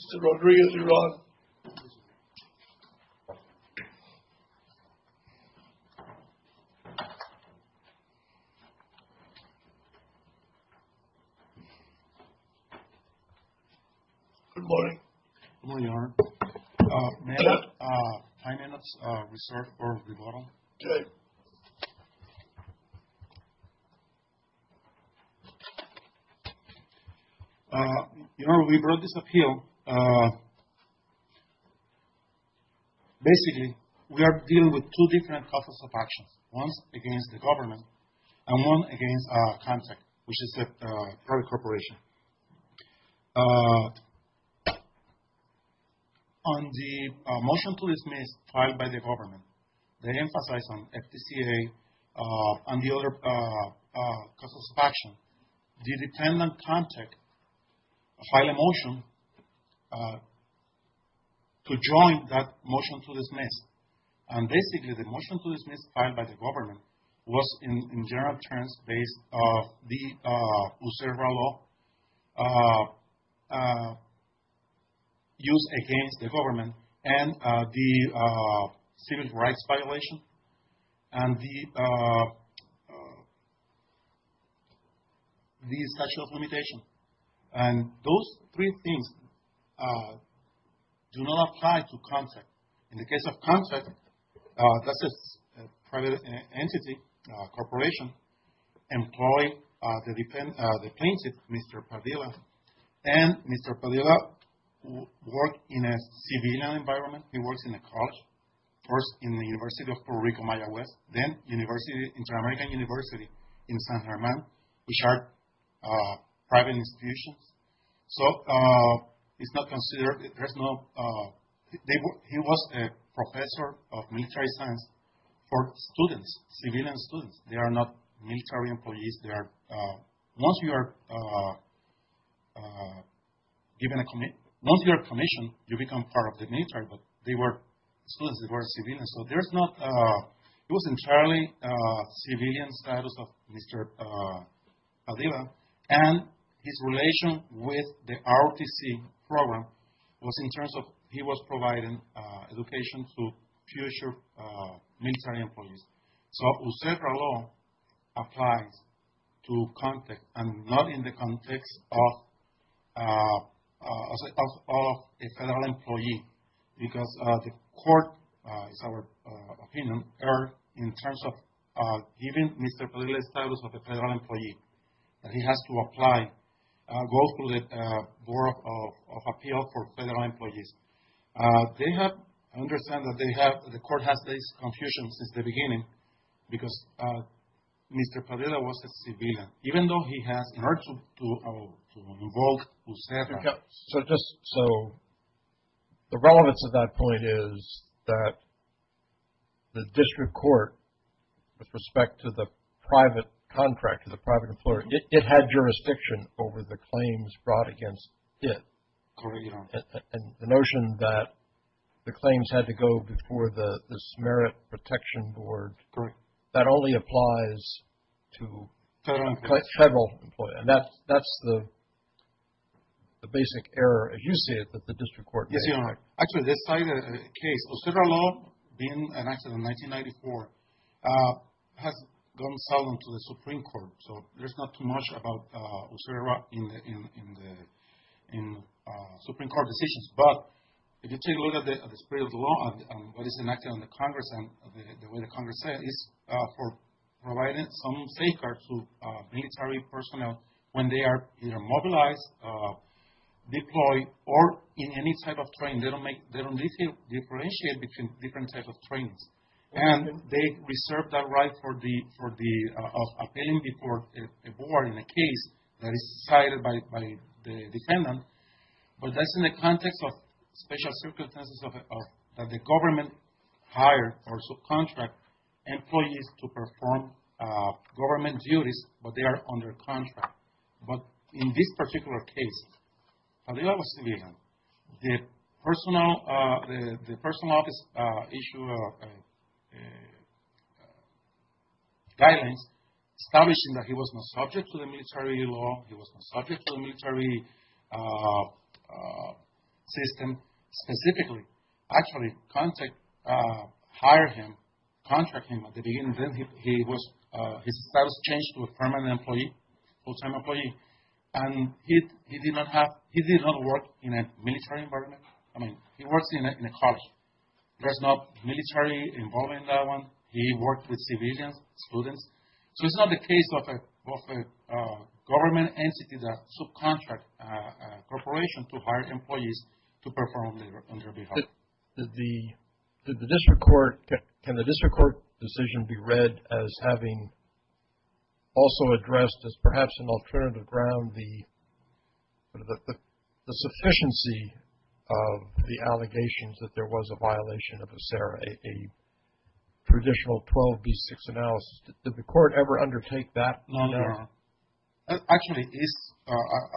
Mr. Rodriguez, you're on. Good morning. Good morning, Your Honor. May I have five minutes reserved for rebuttal? Okay. Your Honor, we brought this appeal. Basically, we are dealing with two different causes of actions. One is against the government, and one against Comtech, which is a private corporation. On the motion to dismiss filed by the government, they emphasize on FDCA and the other causes of action. The detainment Comtech filed a motion to join that motion to dismiss. And basically, the motion to dismiss filed by the government was, in general terms, based on the observer law used against the government, and the civil rights violation, and the statute of limitations. And those three things do not apply to Comtech. In the case of Comtech, that's a private entity, corporation, employing the plaintiff, Mr. Padilla. And Mr. Padilla worked in a civilian environment. He worked in a college, first in the University of Puerto Rico, Mayagüez, then Inter-American University in San Germán, which are private institutions. So, it's not considered, there's no, he was a professor of military science for students, civilian students. They are not military employees. Once you are given a commission, you become part of the military, but they were students, they were civilians. And so, there's not, it was entirely civilian status of Mr. Padilla, and his relation with the ROTC program was in terms of, he was providing education to future military employees. So, observer law applies to Comtech, and not in the context of a federal employee, because the court, in our opinion, are in terms of giving Mr. Padilla the status of a federal employee. He has to apply, go to the Board of Appeals for federal employees. They have, I understand that they have, the court has this confusion since the beginning, because Mr. Padilla was a civilian. Even though he has the right to enroll, etc. So, the relevance of that point is that the district court, with respect to the private contract, to the private employer, it had jurisdiction over the claims brought against it. And the notion that the claims had to go before the Merit Protection Board, that only applies to federal employees. And that's the basic error, as you see it, that the district court made. Actually, this side of the case, observer law, being enacted in 1994, has gone silent to the Supreme Court. So, there's not too much about observer law in the Supreme Court decisions. But, if you take a look at the spirit of the law, and what is enacted in the Congress, and the way the Congress says, it's for providing some safeguards to military personnel when they are either mobilized, deployed, or in any type of training. They don't differentiate between different types of trainings. And they reserve that right of appealing before a board in a case that is decided by the defendant. But that's in the context of special circumstances that the government hire or subcontract employees to perform government duties, but they are under contract. But, in this particular case, the person in office issued a guidance establishing that he was not subject to the military law, he was not subject to the military system specifically. Actually, contract hired him, contracted him at the beginning. His status changed to a permanent employee, full-time employee. And he did not work in a military environment. I mean, he works in a college. There's no military involvement in that one. He worked with civilians, students. So, it's not the case of a government entity that subcontracts a corporation to hire employees to perform labor on their behalf. Did the district court – can the district court decision be read as having also addressed as perhaps an alternative ground the sufficiency of the allegations that there was a violation of ACERA, a traditional 12B6 analysis? Did the court ever undertake that? No, no, no. Actually,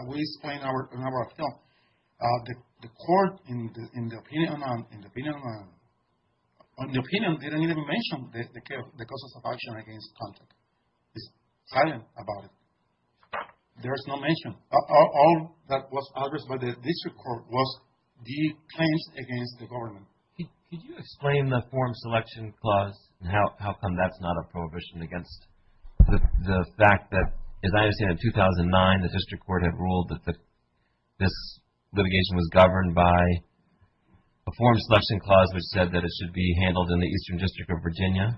we explained in our film, the court, in the opinion, didn't even mention the causes of action against contact. It's silent about it. There is no mention. All that was addressed by the district court was the claims against the government. Could you explain the form selection clause and how come that's not a prohibition against the fact that, as I understand it, in 2009 the district court had ruled that this litigation was governed by a form selection clause which said that it should be handled in the Eastern District of Virginia?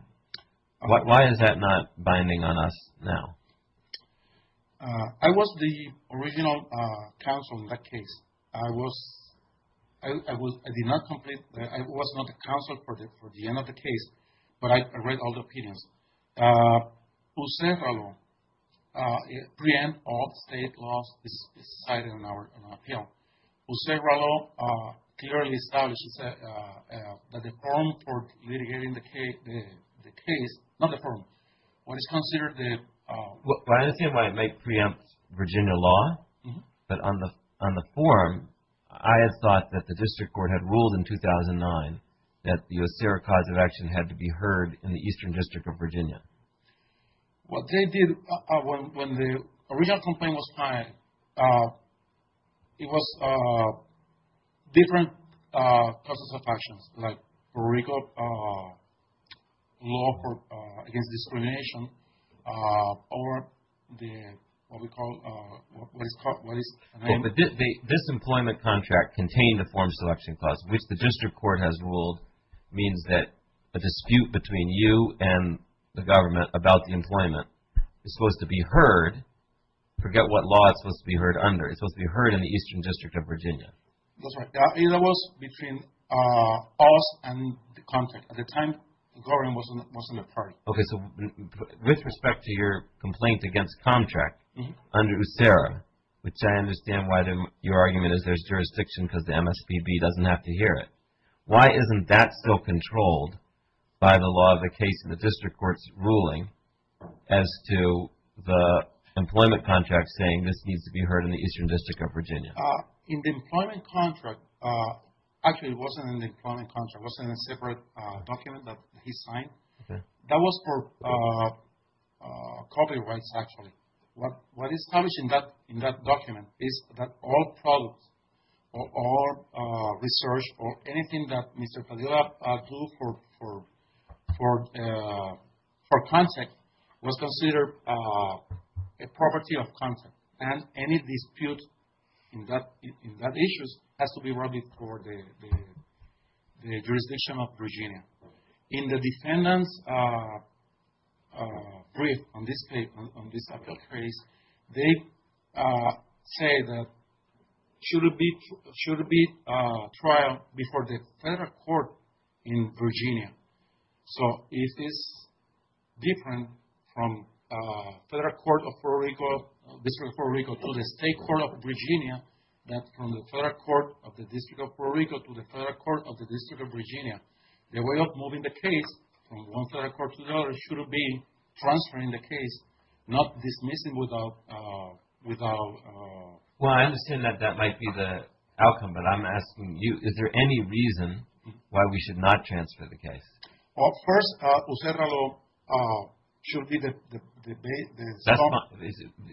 Why is that not binding on us now? I was the original counsel in that case. I was – I did not complete – I was not the counsel for the end of the case, but I read all the opinions. Jose Rallo preempts all state laws cited in our appeal. Jose Rallo clearly established that the form for litigating the case – not the form, what is considered the – Well, I don't see why it might preempt Virginia law, but on the form, I had thought that the district court had ruled in 2009 that the OSERA cause of action had to be heard in the Eastern District of Virginia. What they did, when the original complaint was filed, it was different causes of actions, like Puerto Rico law against discrimination or the – what we call – what is – But this employment contract contained a form selection clause, which the district court has ruled means that a dispute between you and the government about the employment is supposed to be heard – forget what law it's supposed to be heard under – it's supposed to be heard in the Eastern District of Virginia. That's right. It was between us and the contract. At the time, the government wasn't a part of it. Okay, so with respect to your complaint against contract under OSERA, which I understand why your argument is there's jurisdiction because the MSPB doesn't have to hear it. Why isn't that still controlled by the law of the case in the district court's ruling as to the employment contract saying this needs to be heard in the Eastern District of Virginia? In the employment contract – actually, it wasn't in the employment contract. It was in a separate document that he signed. That was for copyrights, actually. What is published in that document is that all products or research or anything that Mr. Padilla do for content was considered a property of content, and any dispute in that issue has to be brought before the jurisdiction of Virginia. In the defendant's brief on this case, they say that it should be a trial before the federal court in Virginia. So, if it's different from federal court of Puerto Rico, district of Puerto Rico to the state court of Virginia, that from the federal court of the district of Puerto Rico to the federal court of the district of Virginia, the way of moving the case from one federal court to another should be transferring the case, not dismissing without – Well, I understand that that might be the outcome, but I'm asking you, is there any reason why we should not transfer the case? Well, first, USERRA law should be the – It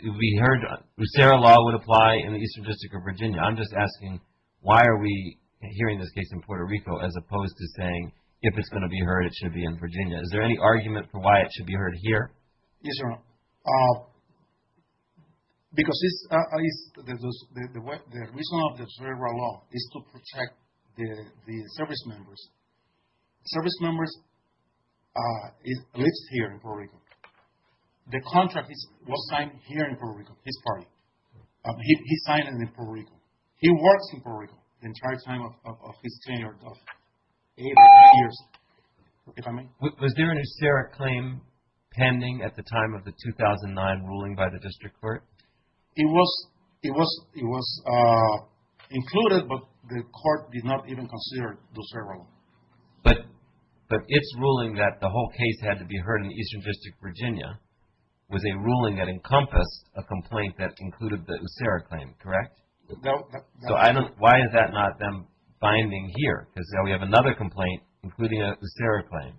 would be heard – USERRA law would apply in the Eastern District of Virginia. I'm just asking, why are we hearing this case in Puerto Rico as opposed to saying if it's going to be heard, it should be in Virginia? Is there any argument for why it should be heard here? Yes, Your Honor, because the reason of USERRA law is to protect the service members. Service members live here in Puerto Rico. The contract was signed here in Puerto Rico, his party. He signed it in Puerto Rico. He works in Puerto Rico the entire time of his tenure of eight or nine years, if I may. Was there an USERRA claim pending at the time of the 2009 ruling by the district court? It was included, but the court did not even consider the USERRA law. But its ruling that the whole case had to be heard in the Eastern District of Virginia was a ruling that encompassed a complaint that included the USERRA claim, correct? No. So, why is that not then binding here? Because now we have another complaint including a USERRA claim.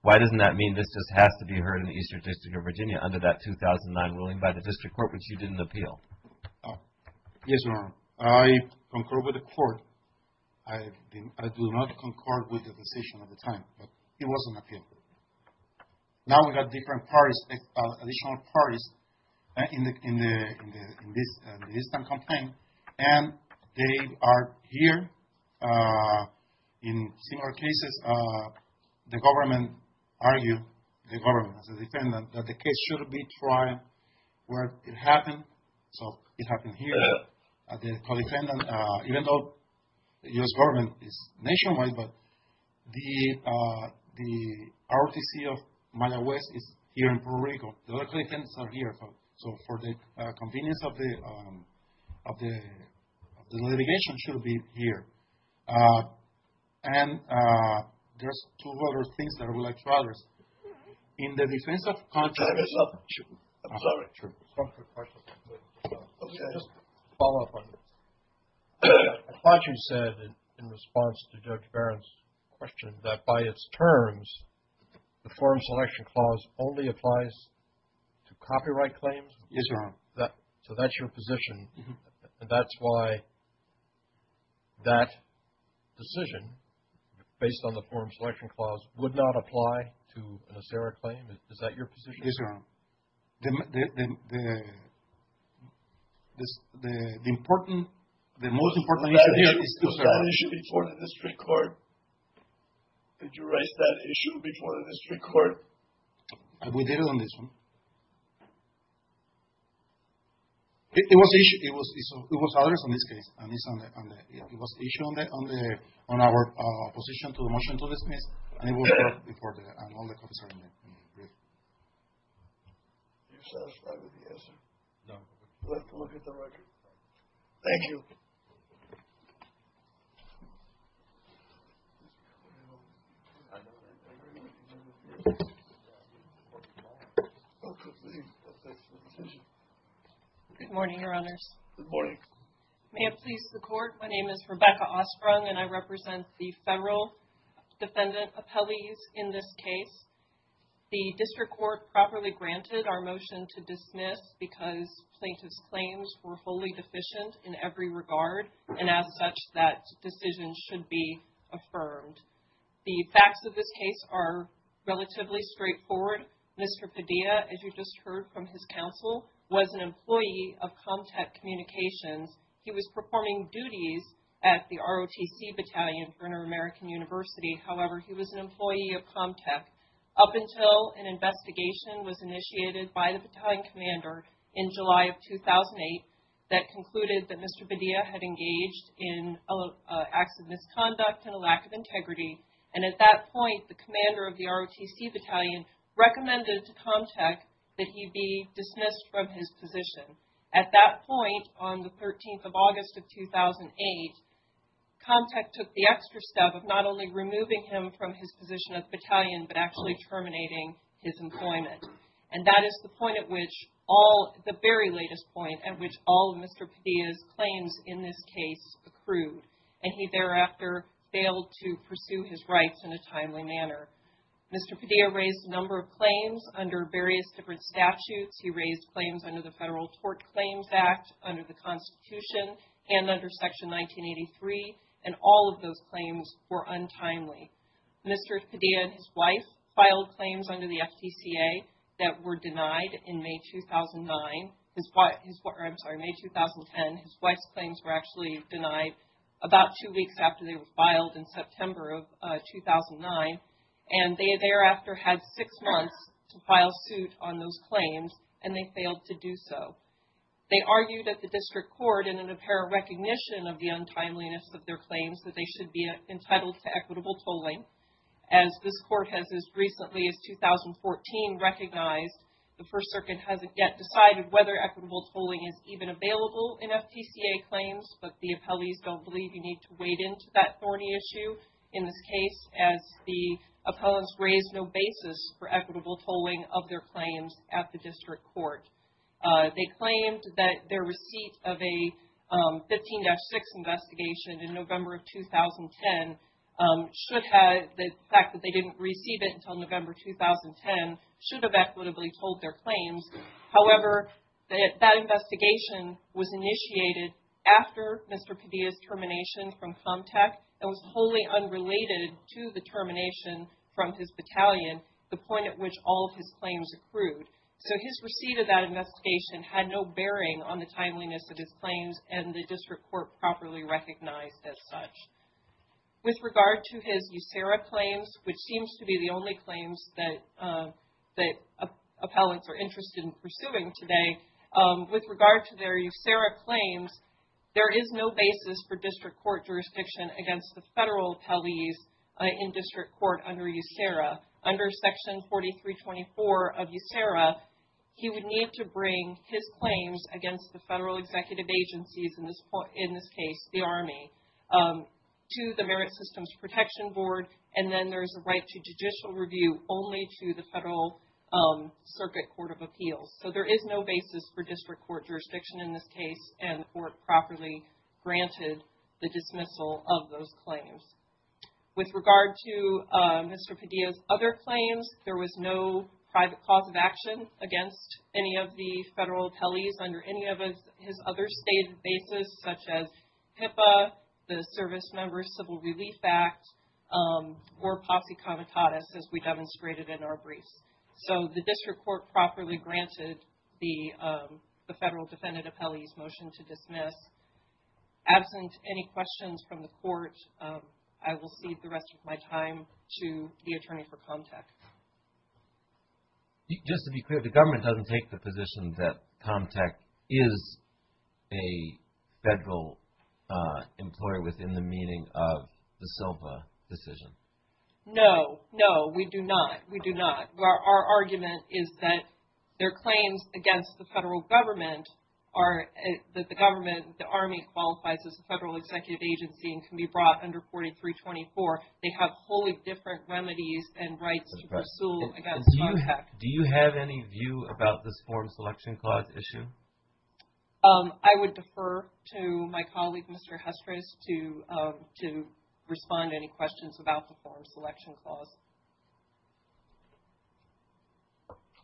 Why doesn't that mean this just has to be heard in the Eastern District of Virginia under that 2009 ruling by the district court, which you didn't appeal? Yes, Your Honor. I concur with the court. I do not concur with the decision at the time, but it was an appeal. Now we have different parties, additional parties in the Eastern complaint. And they are here in similar cases. The government argued, the government as a defendant, that the case should be tried where it happened. So, it happened here. The co-defendant, even though the US government is nationwide, but the ROTC of Madagascar is here in Puerto Rico. The other co-defendants are here. So, for the convenience of the litigation, should be here. And there's two other things that I would like to address. In the defense of Contre... I'm sorry. Just a follow-up on this. Contre said in response to Judge Barron's question that by its terms, the forum selection clause only applies to copyright claims. Yes, Your Honor. So, that's your position. And that's why that decision, based on the forum selection clause, would not apply to an ACERA claim? Is that your position? Yes, Your Honor. The most important issue is... Did you raise that issue before the district court? Did you raise that issue before the district court? We did on this one. It was others on this case. It was issued on our position to motion to dismiss. And it was reported. And all the copies are in the brief. Are you satisfied with the answer? No. Let's look at the record. Thank you. Good morning, Your Honors. Good morning. May it please the Court, my name is Rebecca Ostrung, and I represent the federal defendant appellees in this case. The district court properly granted our motion to dismiss because plaintiffs' claims were fully deficient in every regard. And as such, that decision should be affirmed. The facts of this case are relatively straightforward. Mr. Padilla, as you just heard from his counsel, was an employee of ComTech Communications. He was performing duties at the ROTC battalion for Inter-American University. However, he was an employee of ComTech up until an investigation was initiated by the battalion commander in July of 2008 that concluded that Mr. Padilla had engaged in acts of misconduct and a lack of integrity. And at that point, the commander of the ROTC battalion recommended to ComTech that he be dismissed from his position. At that point, on the 13th of August of 2008, ComTech took the extra step of not only removing him from his position as battalion, but actually terminating his employment. And that is the point at which all – the very latest point at which all of Mr. Padilla's claims in this case accrued. And he thereafter failed to pursue his rights in a timely manner. Mr. Padilla raised a number of claims under various different statutes. He raised claims under the Federal Tort Claims Act, under the Constitution, and under Section 1983. And all of those claims were untimely. Mr. Padilla and his wife filed claims under the FTCA that were denied in May 2009 – I'm sorry, May 2010. His wife's claims were actually denied about two weeks after they were filed in September of 2009. And they thereafter had six months to file suit on those claims, and they failed to do so. They argued at the district court in an apparent recognition of the untimeliness of their claims that they should be entitled to equitable tolling. As this court has as recently as 2014 recognized, the First Circuit hasn't yet decided whether equitable tolling is even available in FTCA claims. But the appellees don't believe you need to wade into that thorny issue in this case, as the appellants raised no basis for equitable tolling of their claims at the district court. They claimed that their receipt of a 15-6 investigation in November of 2010 should have – the fact that they didn't receive it until November 2010 should have equitably tolled their claims. However, that investigation was initiated after Mr. Padilla's termination from ComTech and was wholly unrelated to the termination from his battalion, the point at which all of his claims accrued. So, his receipt of that investigation had no bearing on the timeliness of his claims and the district court properly recognized as such. With regard to his USERRA claims, which seems to be the only claims that appellants are interested in pursuing today, with regard to their USERRA claims, there is no basis for district court jurisdiction against the federal appellees in district court under USERRA. Under Section 4324 of USERRA, he would need to bring his claims against the federal executive agencies, in this case, the Army, to the Merit Systems Protection Board, and then there's a right to judicial review only to the federal circuit court of appeals. So, there is no basis for district court jurisdiction in this case, and the court properly granted the dismissal of those claims. With regard to Mr. Padilla's other claims, there was no private cause of action against any of the federal appellees under any of his other stated basis, such as HIPAA, the Service Member Civil Relief Act, or posse comitatus, as we demonstrated in our briefs. So, the district court properly granted the federal defendant appellee's motion to dismiss. Absent any questions from the court, I will cede the rest of my time to the attorney for ComTech. Just to be clear, the government doesn't take the position that ComTech is a federal employer within the meaning of the Silva decision? No, no, we do not. We do not. Our argument is that their claims against the federal government are that the government, the Army, qualifies as a federal executive agency and can be brought under 4324. They have wholly different remedies and rights to pursue against ComTech. Do you have any view about this form selection clause issue? I would defer to my colleague, Mr. Hestrous, to respond to any questions about the form selection clause.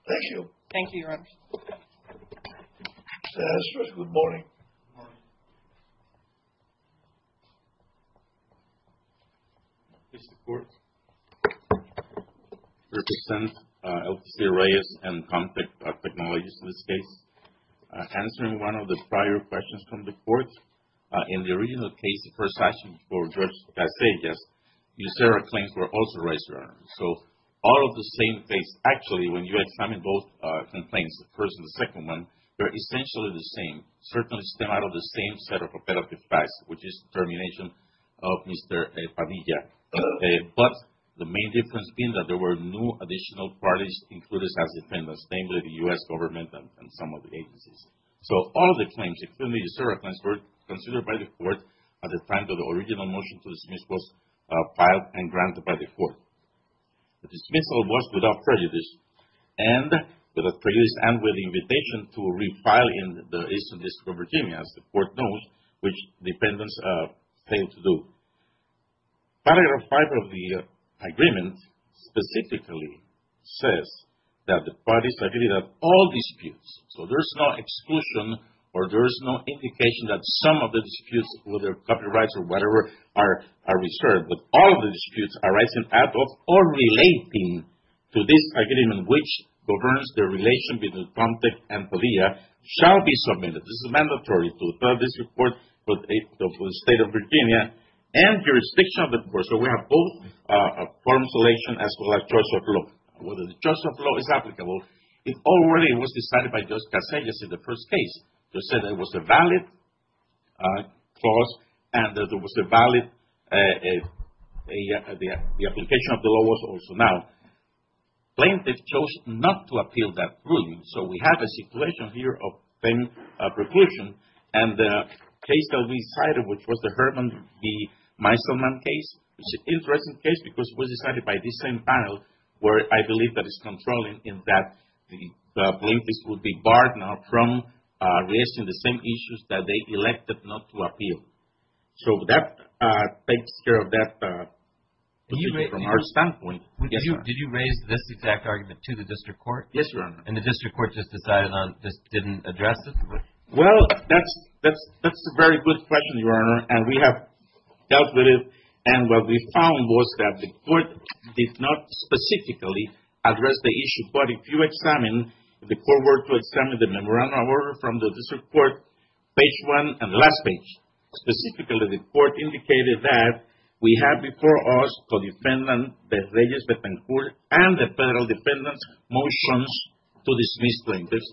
Thank you. Thank you, Your Honor. Mr. Hestrous, good morning. Good morning. The district court represents LTC Arrayas and ComTech Technologies in this case. Answering one of the prior questions from the court, in the original case, the first action for Judge Casillas, USERRA claims were also raised, Your Honor. So, all of the same case. Actually, when you examine both complaints, the first and the second one, they're essentially the same. Certainly stem out of the same set of repetitive facts, which is termination of Mr. Padilla. But the main difference being that there were no additional parties included as defendants, namely the U.S. government and some of the agencies. So, all of the claims, excluding the USERRA claims, were considered by the court at the time that the original motion to dismiss was filed and granted by the court. The dismissal was without prejudice. And without prejudice and with the invitation to refile in the Eastern District of Virginia, as the court knows, which defendants failed to do. Paragraph 5 of the agreement specifically says that the parties have all disputes. So, there's no exclusion or there's no indication that some of the disputes, whether copyrights or whatever, are reserved. But all of the disputes arising out of or relating to this agreement, which governs the relation between ComTech and Padilla, shall be submitted. This is mandatory to the Federal District Court of the State of Virginia and jurisdiction of the court. So, we have both forms of relation as well as choice of law. Whether the choice of law is applicable, it already was decided by Judge Casillas in the first case. He said it was a valid clause and that it was a valid, the application of the law was also valid. Plaintiffs chose not to appeal that ruling. So, we have a situation here of fame preclusion. And the case that we decided, which was the Herman B. Meiselman case, was an interesting case because it was decided by this same panel, where I believe that it's controlling in that the plaintiffs would be barred now from raising the same issues that they elected not to appeal. So, that takes care of that from our standpoint. Did you raise this exact argument to the district court? Yes, Your Honor. And the district court just decided on, just didn't address it? Well, that's a very good question, Your Honor. And we have dealt with it. And what we found was that the court did not specifically address the issue. But if you examine, the court were to examine the memorandum of order from the district court, page one and the last page. Specifically, the court indicated that we have before us the defendant, the Regis Betancourt, and the federal defendant's motions to dismiss plaintiffs.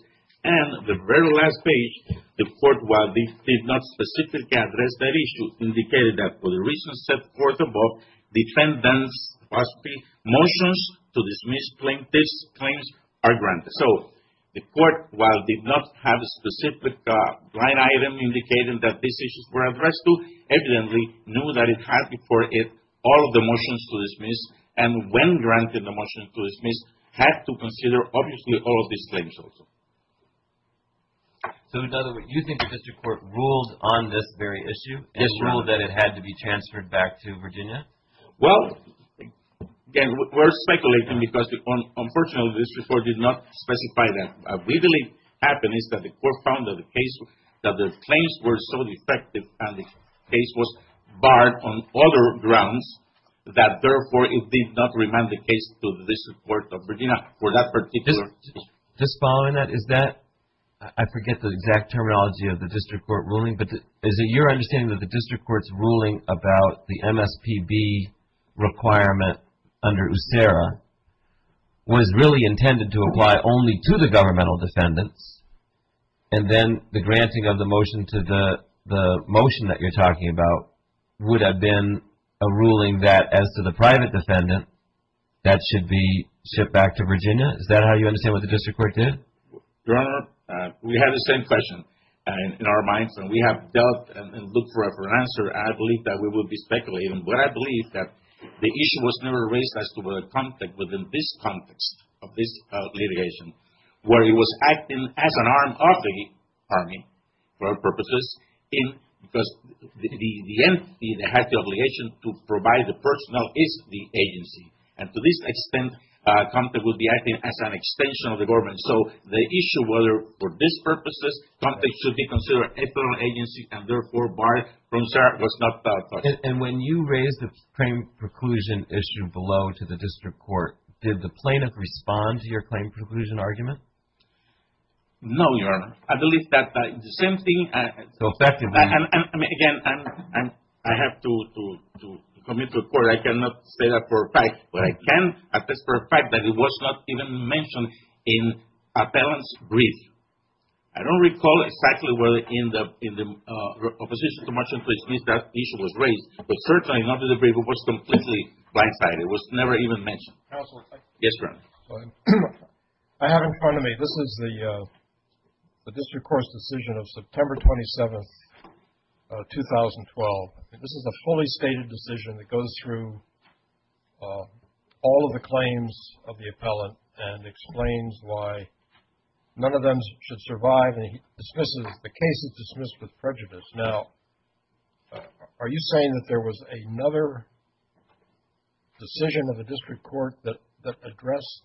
And the very last page, the court, while it did not specifically address that issue, indicated that for the reasons set forth above, the defendant's motions to dismiss plaintiffs' claims are granted. So, the court, while it did not have a specific line item indicating that these issues were addressed to, evidently knew that it had before it all of the motions to dismiss. And when granted the motions to dismiss, had to consider, obviously, all of these claims also. So, in other words, you think the district court ruled on this very issue and ruled that it had to be transferred back to Virginia? Well, again, we're speculating because, unfortunately, the district court did not specify that. What we believe happened is that the court found that the claims were so defective and the case was barred on other grounds that, therefore, it did not remand the case to the district court of Virginia for that particular reason. Just following that, is that, I forget the exact terminology of the district court ruling, but is it your understanding that the district court's ruling about the MSPB requirement under USERRA was really intended to apply only to the governmental defendants and then the granting of the motion to the motion that you're talking about would have been a ruling that, as to the private defendant, that should be shipped back to Virginia? Is that how you understand what the district court did? Your Honor, we have the same question in our minds, and we have dealt and looked for an answer, and I believe that we will be speculating. But I believe that the issue was never raised as to whether contact within this context of this litigation, where it was acting as an arm of the Army, for our purposes, because the entity that had the obligation to provide the personnel is the agency. And to this extent, contact would be acting as an extension of the government. So the issue whether, for these purposes, contact should be considered a federal agency and, therefore, barred from USERRA was not dealt with. And when you raised the claim preclusion issue below to the district court, did the plaintiff respond to your claim preclusion argument? No, Your Honor. I believe that the same thing. So effectively. And, again, I have to commit to a court. But I cannot say that for a fact. But I can attest for a fact that it was not even mentioned in a balanced brief. I don't recall exactly whether in the opposition to March 12th case that issue was raised, but certainly not to the degree it was completely blindsided. It was never even mentioned. Yes, Your Honor. I have in front of me, this is the district court's decision of September 27th, 2012. This is a fully stated decision that goes through all of the claims of the appellant and explains why none of them should survive. And he dismisses the case as dismissed with prejudice. Now, are you saying that there was another decision of the district court that addressed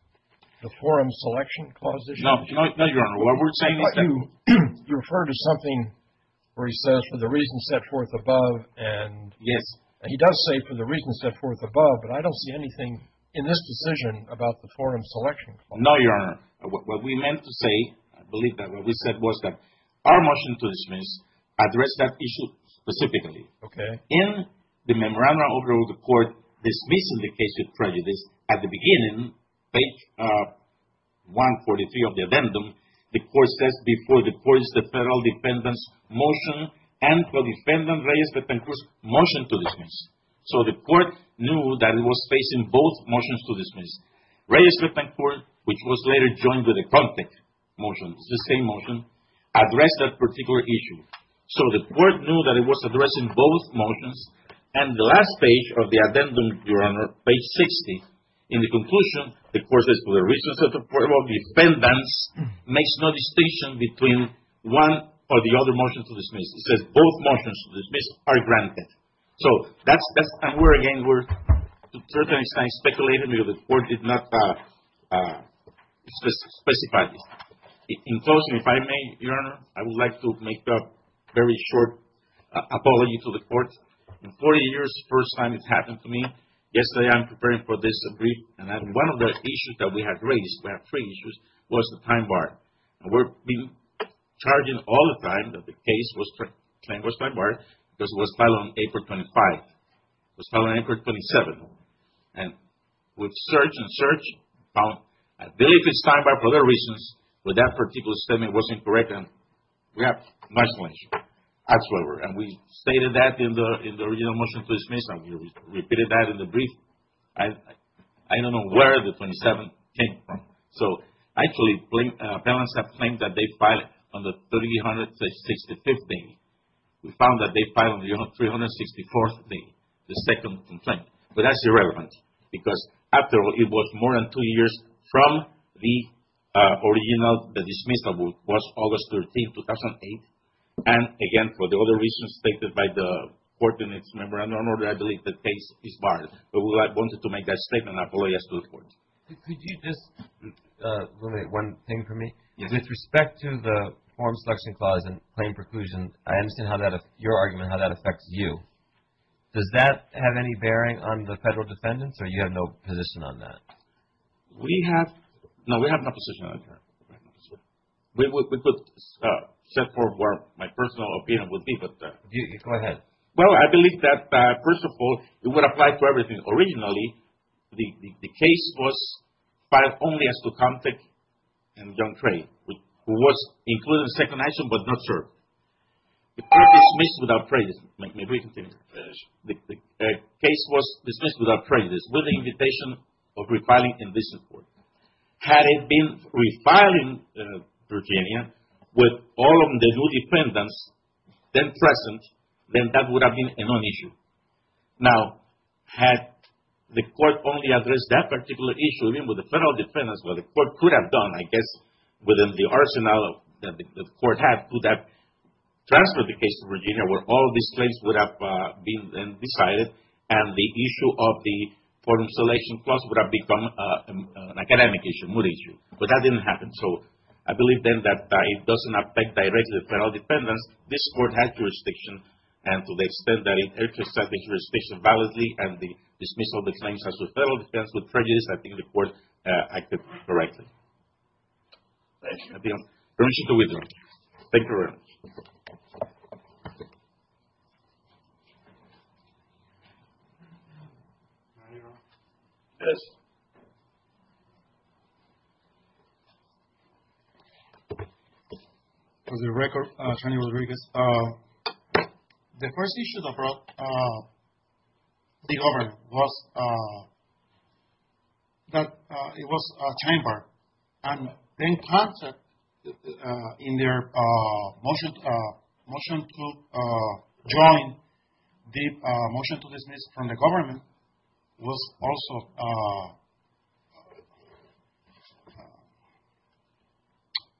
the forum selection clause issue? No, Your Honor. You refer to something where he says, for the reasons set forth above. Yes. He does say for the reasons set forth above, but I don't see anything in this decision about the forum selection clause. No, Your Honor. What we meant to say, I believe that what we said was that our motion to dismiss addressed that issue specifically. Okay. In the memorandum of the court dismissing the case with prejudice, at the beginning, page 143 of the addendum, the court says, before the court is the federal defendant's motion and for defendant Reyes-Lippincourt's motion to dismiss. So the court knew that it was facing both motions to dismiss. Reyes-Lippincourt, which was later joined with a contact motion, it's the same motion, addressed that particular issue. So the court knew that it was addressing both motions, and the last page of the addendum, Your Honor, page 60, in the conclusion, the court says, for the reasons set forth above, the defendants makes no distinction between one or the other motion to dismiss. It says both motions to dismiss are granted. So that's, and we're again, we're speculating because the court did not specify this. In closing, if I may, Your Honor, I would like to make a very short apology to the court. In 40 years, the first time it's happened to me. Yesterday, I'm preparing for this brief, and one of the issues that we had raised, we had three issues, was the time bar. And we've been charging all the time that the case was claimed was time barred because it was filed on April 25. It was filed on April 27. And we've searched and searched. I believe it's time barred for other reasons, but that particular statement was incorrect, and we have a national issue. That's what it was. And we stated that in the original motion to dismiss, and we repeated that in the brief. I don't know where the 27 came from. So actually, appellants have claimed that they filed on the 365th day. We found that they filed on the 364th day, the second complaint. But that's irrelevant because after all, it was more than two years from the original, the dismissal was August 13, 2008. And again, for the other reasons stated by the court in its memorandum of order, I believe the case is barred. But I wanted to make that statement and apologize to the court. Could you just relate one thing for me? Yes. With respect to the Form Selection Clause and claim preclusion, I understand your argument, how that affects you. Does that have any bearing on the federal defendants, or you have no position on that? We have – no, we have no position on that. We could set forth what my personal opinion would be, but – Go ahead. Well, I believe that, first of all, it would apply to everything. Originally, the case was filed only as to Comtech and Young Trey, who was included in the second action but not served. It was dismissed without prejudice. May we continue? Yes. The case was dismissed without prejudice with the invitation of refiling in this report. Had it been refiled in Virginia with all of the new defendants then present, then that would have been a non-issue. Now, had the court only addressed that particular issue, even with the federal defendants, what the court could have done, I guess, within the arsenal that the court had, could have transferred the case to Virginia where all these claims would have been decided and the issue of the Form Selection Clause would have become an academic issue, a mood issue. But that didn't happen. So I believe then that it doesn't affect directly the federal defendants. This court had jurisdiction, and to the extent that it exercised that jurisdiction validly and dismissed all the claims as to federal defendants with prejudice, I think the court acted correctly. Thank you. Permission to withdraw. Thank you very much. Yes. Yes. For the record, Attorney Rodriguez, the first issue that brought the government was that it was a chamber. And then concert in their motion to join the motion to dismiss from the government was also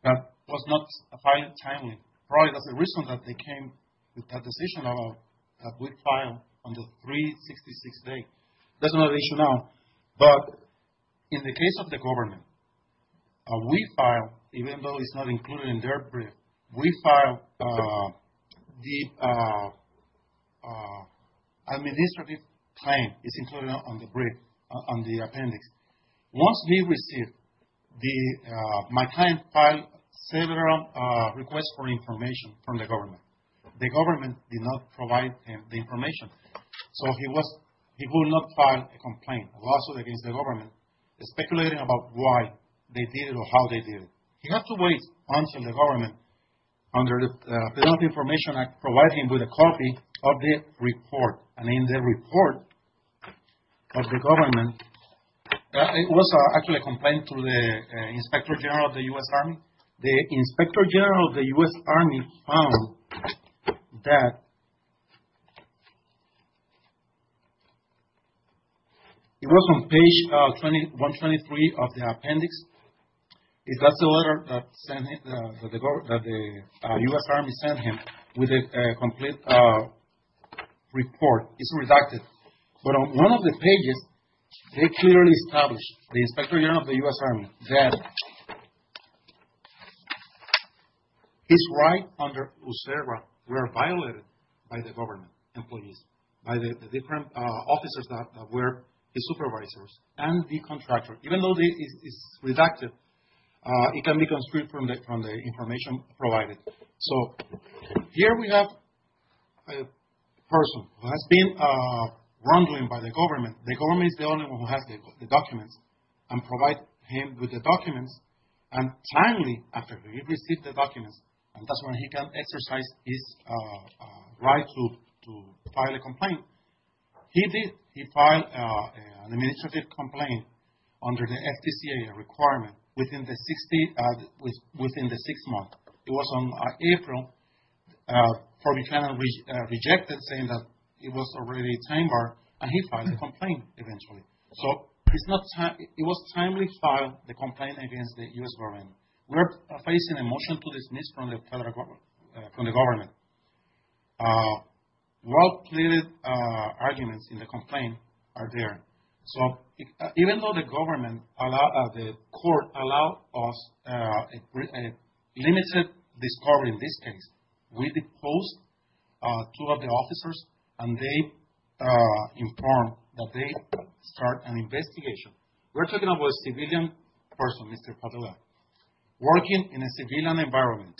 that was not filed timely. Probably that's the reason that they came with that decision that we filed on the 366 day. That's another issue now. But in the case of the government, we filed, even though it's not included in their brief, we filed the administrative claim. It's included on the brief, on the appendix. Once we received the, my client filed several requests for information from the government. The government did not provide him the information. So he was, he would not file a complaint, a lawsuit against the government, speculating about why they did it or how they did it. He had to wait until the government, under the Penalty Information Act, provided him with a copy of the report. And in the report of the government, it was actually a complaint to the Inspector General of the U.S. Army. And the Inspector General of the U.S. Army found that it was on page 123 of the appendix. That's the letter that the U.S. Army sent him with a complete report. It's redacted. But on one of the pages, they clearly established, the Inspector General of the U.S. Army, that his rights under USERVA were violated by the government employees, by the different officers that were the supervisors and the contractors. Even though it's redacted, it can be constricted from the information provided. So, here we have a person who has been rumbling by the government. The government is the only one who has the documents and provide him with the documents. And timely, after he received the documents, and that's when he can exercise his right to file a complaint. He did. He filed an administrative complaint under the FDCA requirement within the six months. It was on April. Ferdinand rejected saying that it was already a time bar, and he filed a complaint eventually. So, it was a timely file, the complaint against the U.S. government. We are facing a motion to dismiss from the government. Well-plated arguments in the complaint are there. So, even though the government, the court, allowed us a limited discovery in this case, we deposed two of the officers, and they informed that they start an investigation. We're talking about a civilian person, Mr. Padilla, working in a civilian environment,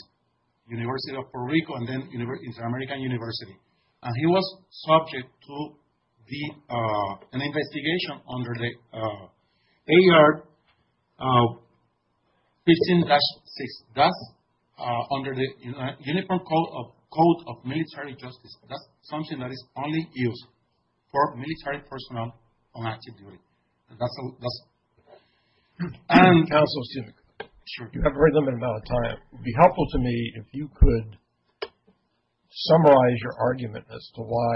University of Puerto Rico, and then Inter-American University. And he was subject to an investigation under the AR 15-6. That's under the Uniform Code of Military Justice. That's something that is only used for military personnel on active duty. And that's it. You have a very limited amount of time. It would be helpful to me if you could summarize your argument as to why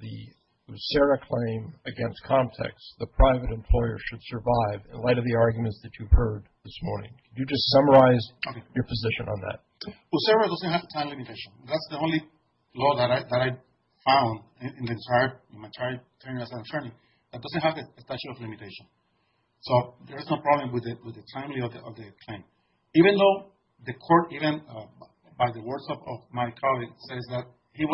the USERRA claim against Comtex, the private employer, should survive in light of the arguments that you've heard this morning. Could you just summarize your position on that? USERRA doesn't have a time limitation. That's the only law that I found in my entire tenure as attorney that doesn't have a statute of limitation. So there's no problem with the timely of the claim. Even though the court, even by the words of my colleague, says that we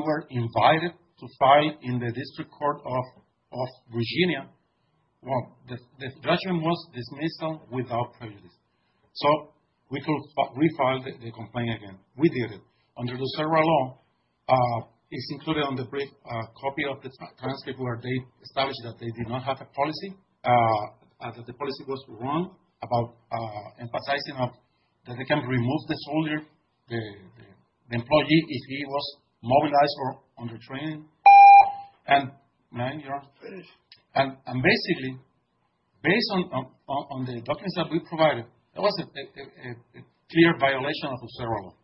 were invited to file in the District Court of Virginia, well, the judgment was dismissed without prejudice. So we could refile the complaint again. We did it. Under the USERRA law, it's included on the brief copy of the transcript where they established that they did not have a policy, that the policy was wrong, about emphasizing that they can remove the soldier, the employee, if he was mobilized or under training. And basically, based on the documents that we provided, there was a clear violation of USERRA law.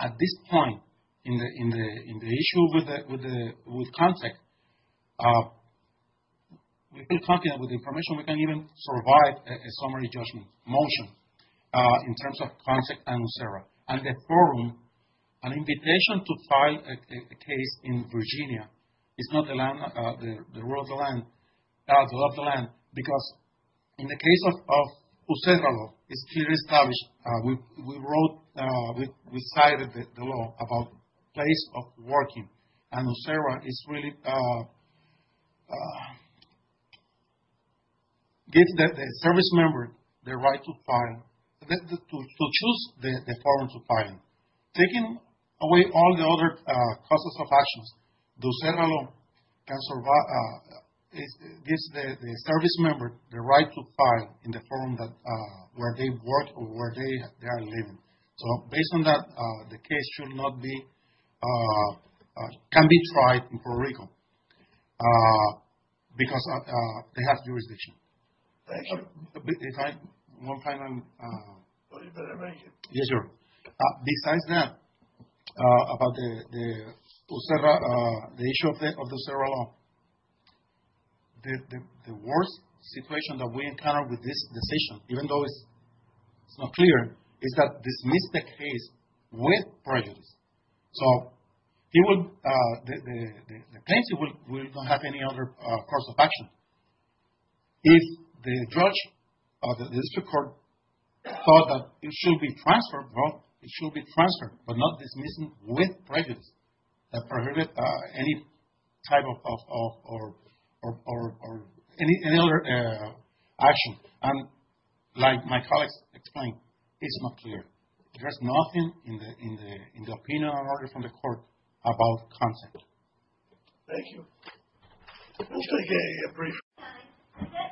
At this point, in the issue with CONTACT, with the document, with the information, we can't even provide a summary judgment motion in terms of CONTACT and USERRA. And the forum, an invitation to file a case in Virginia is not the rule of the land. Because in the case of USERRA law, it's clearly established. We wrote, we cited the law about place of working. And USERRA is really giving the service member the right to choose the forum to file in. Taking away all the other causes of actions, USERRA law gives the service member the right to file in the forum where they work or where they are living. So based on that, the case should not be, can be tried in Puerto Rico. Because they have jurisdiction. Thank you. If I, one final... Yes, sir. Besides that, about the USERRA, the issue of the USERRA law, the worst situation that we encounter with this decision, even though it's not clear, is that dismiss the case with prejudice. So, it would, the claims will not have any other cause of action. If the judge or the district court thought that it should be transferred, well, it should be transferred, but not dismissed with prejudice that prohibit any type of, or any other action. And like my colleagues explained, it's not clear. There's nothing in the opinion or order from the court about content. Thank you. We'll take a brief...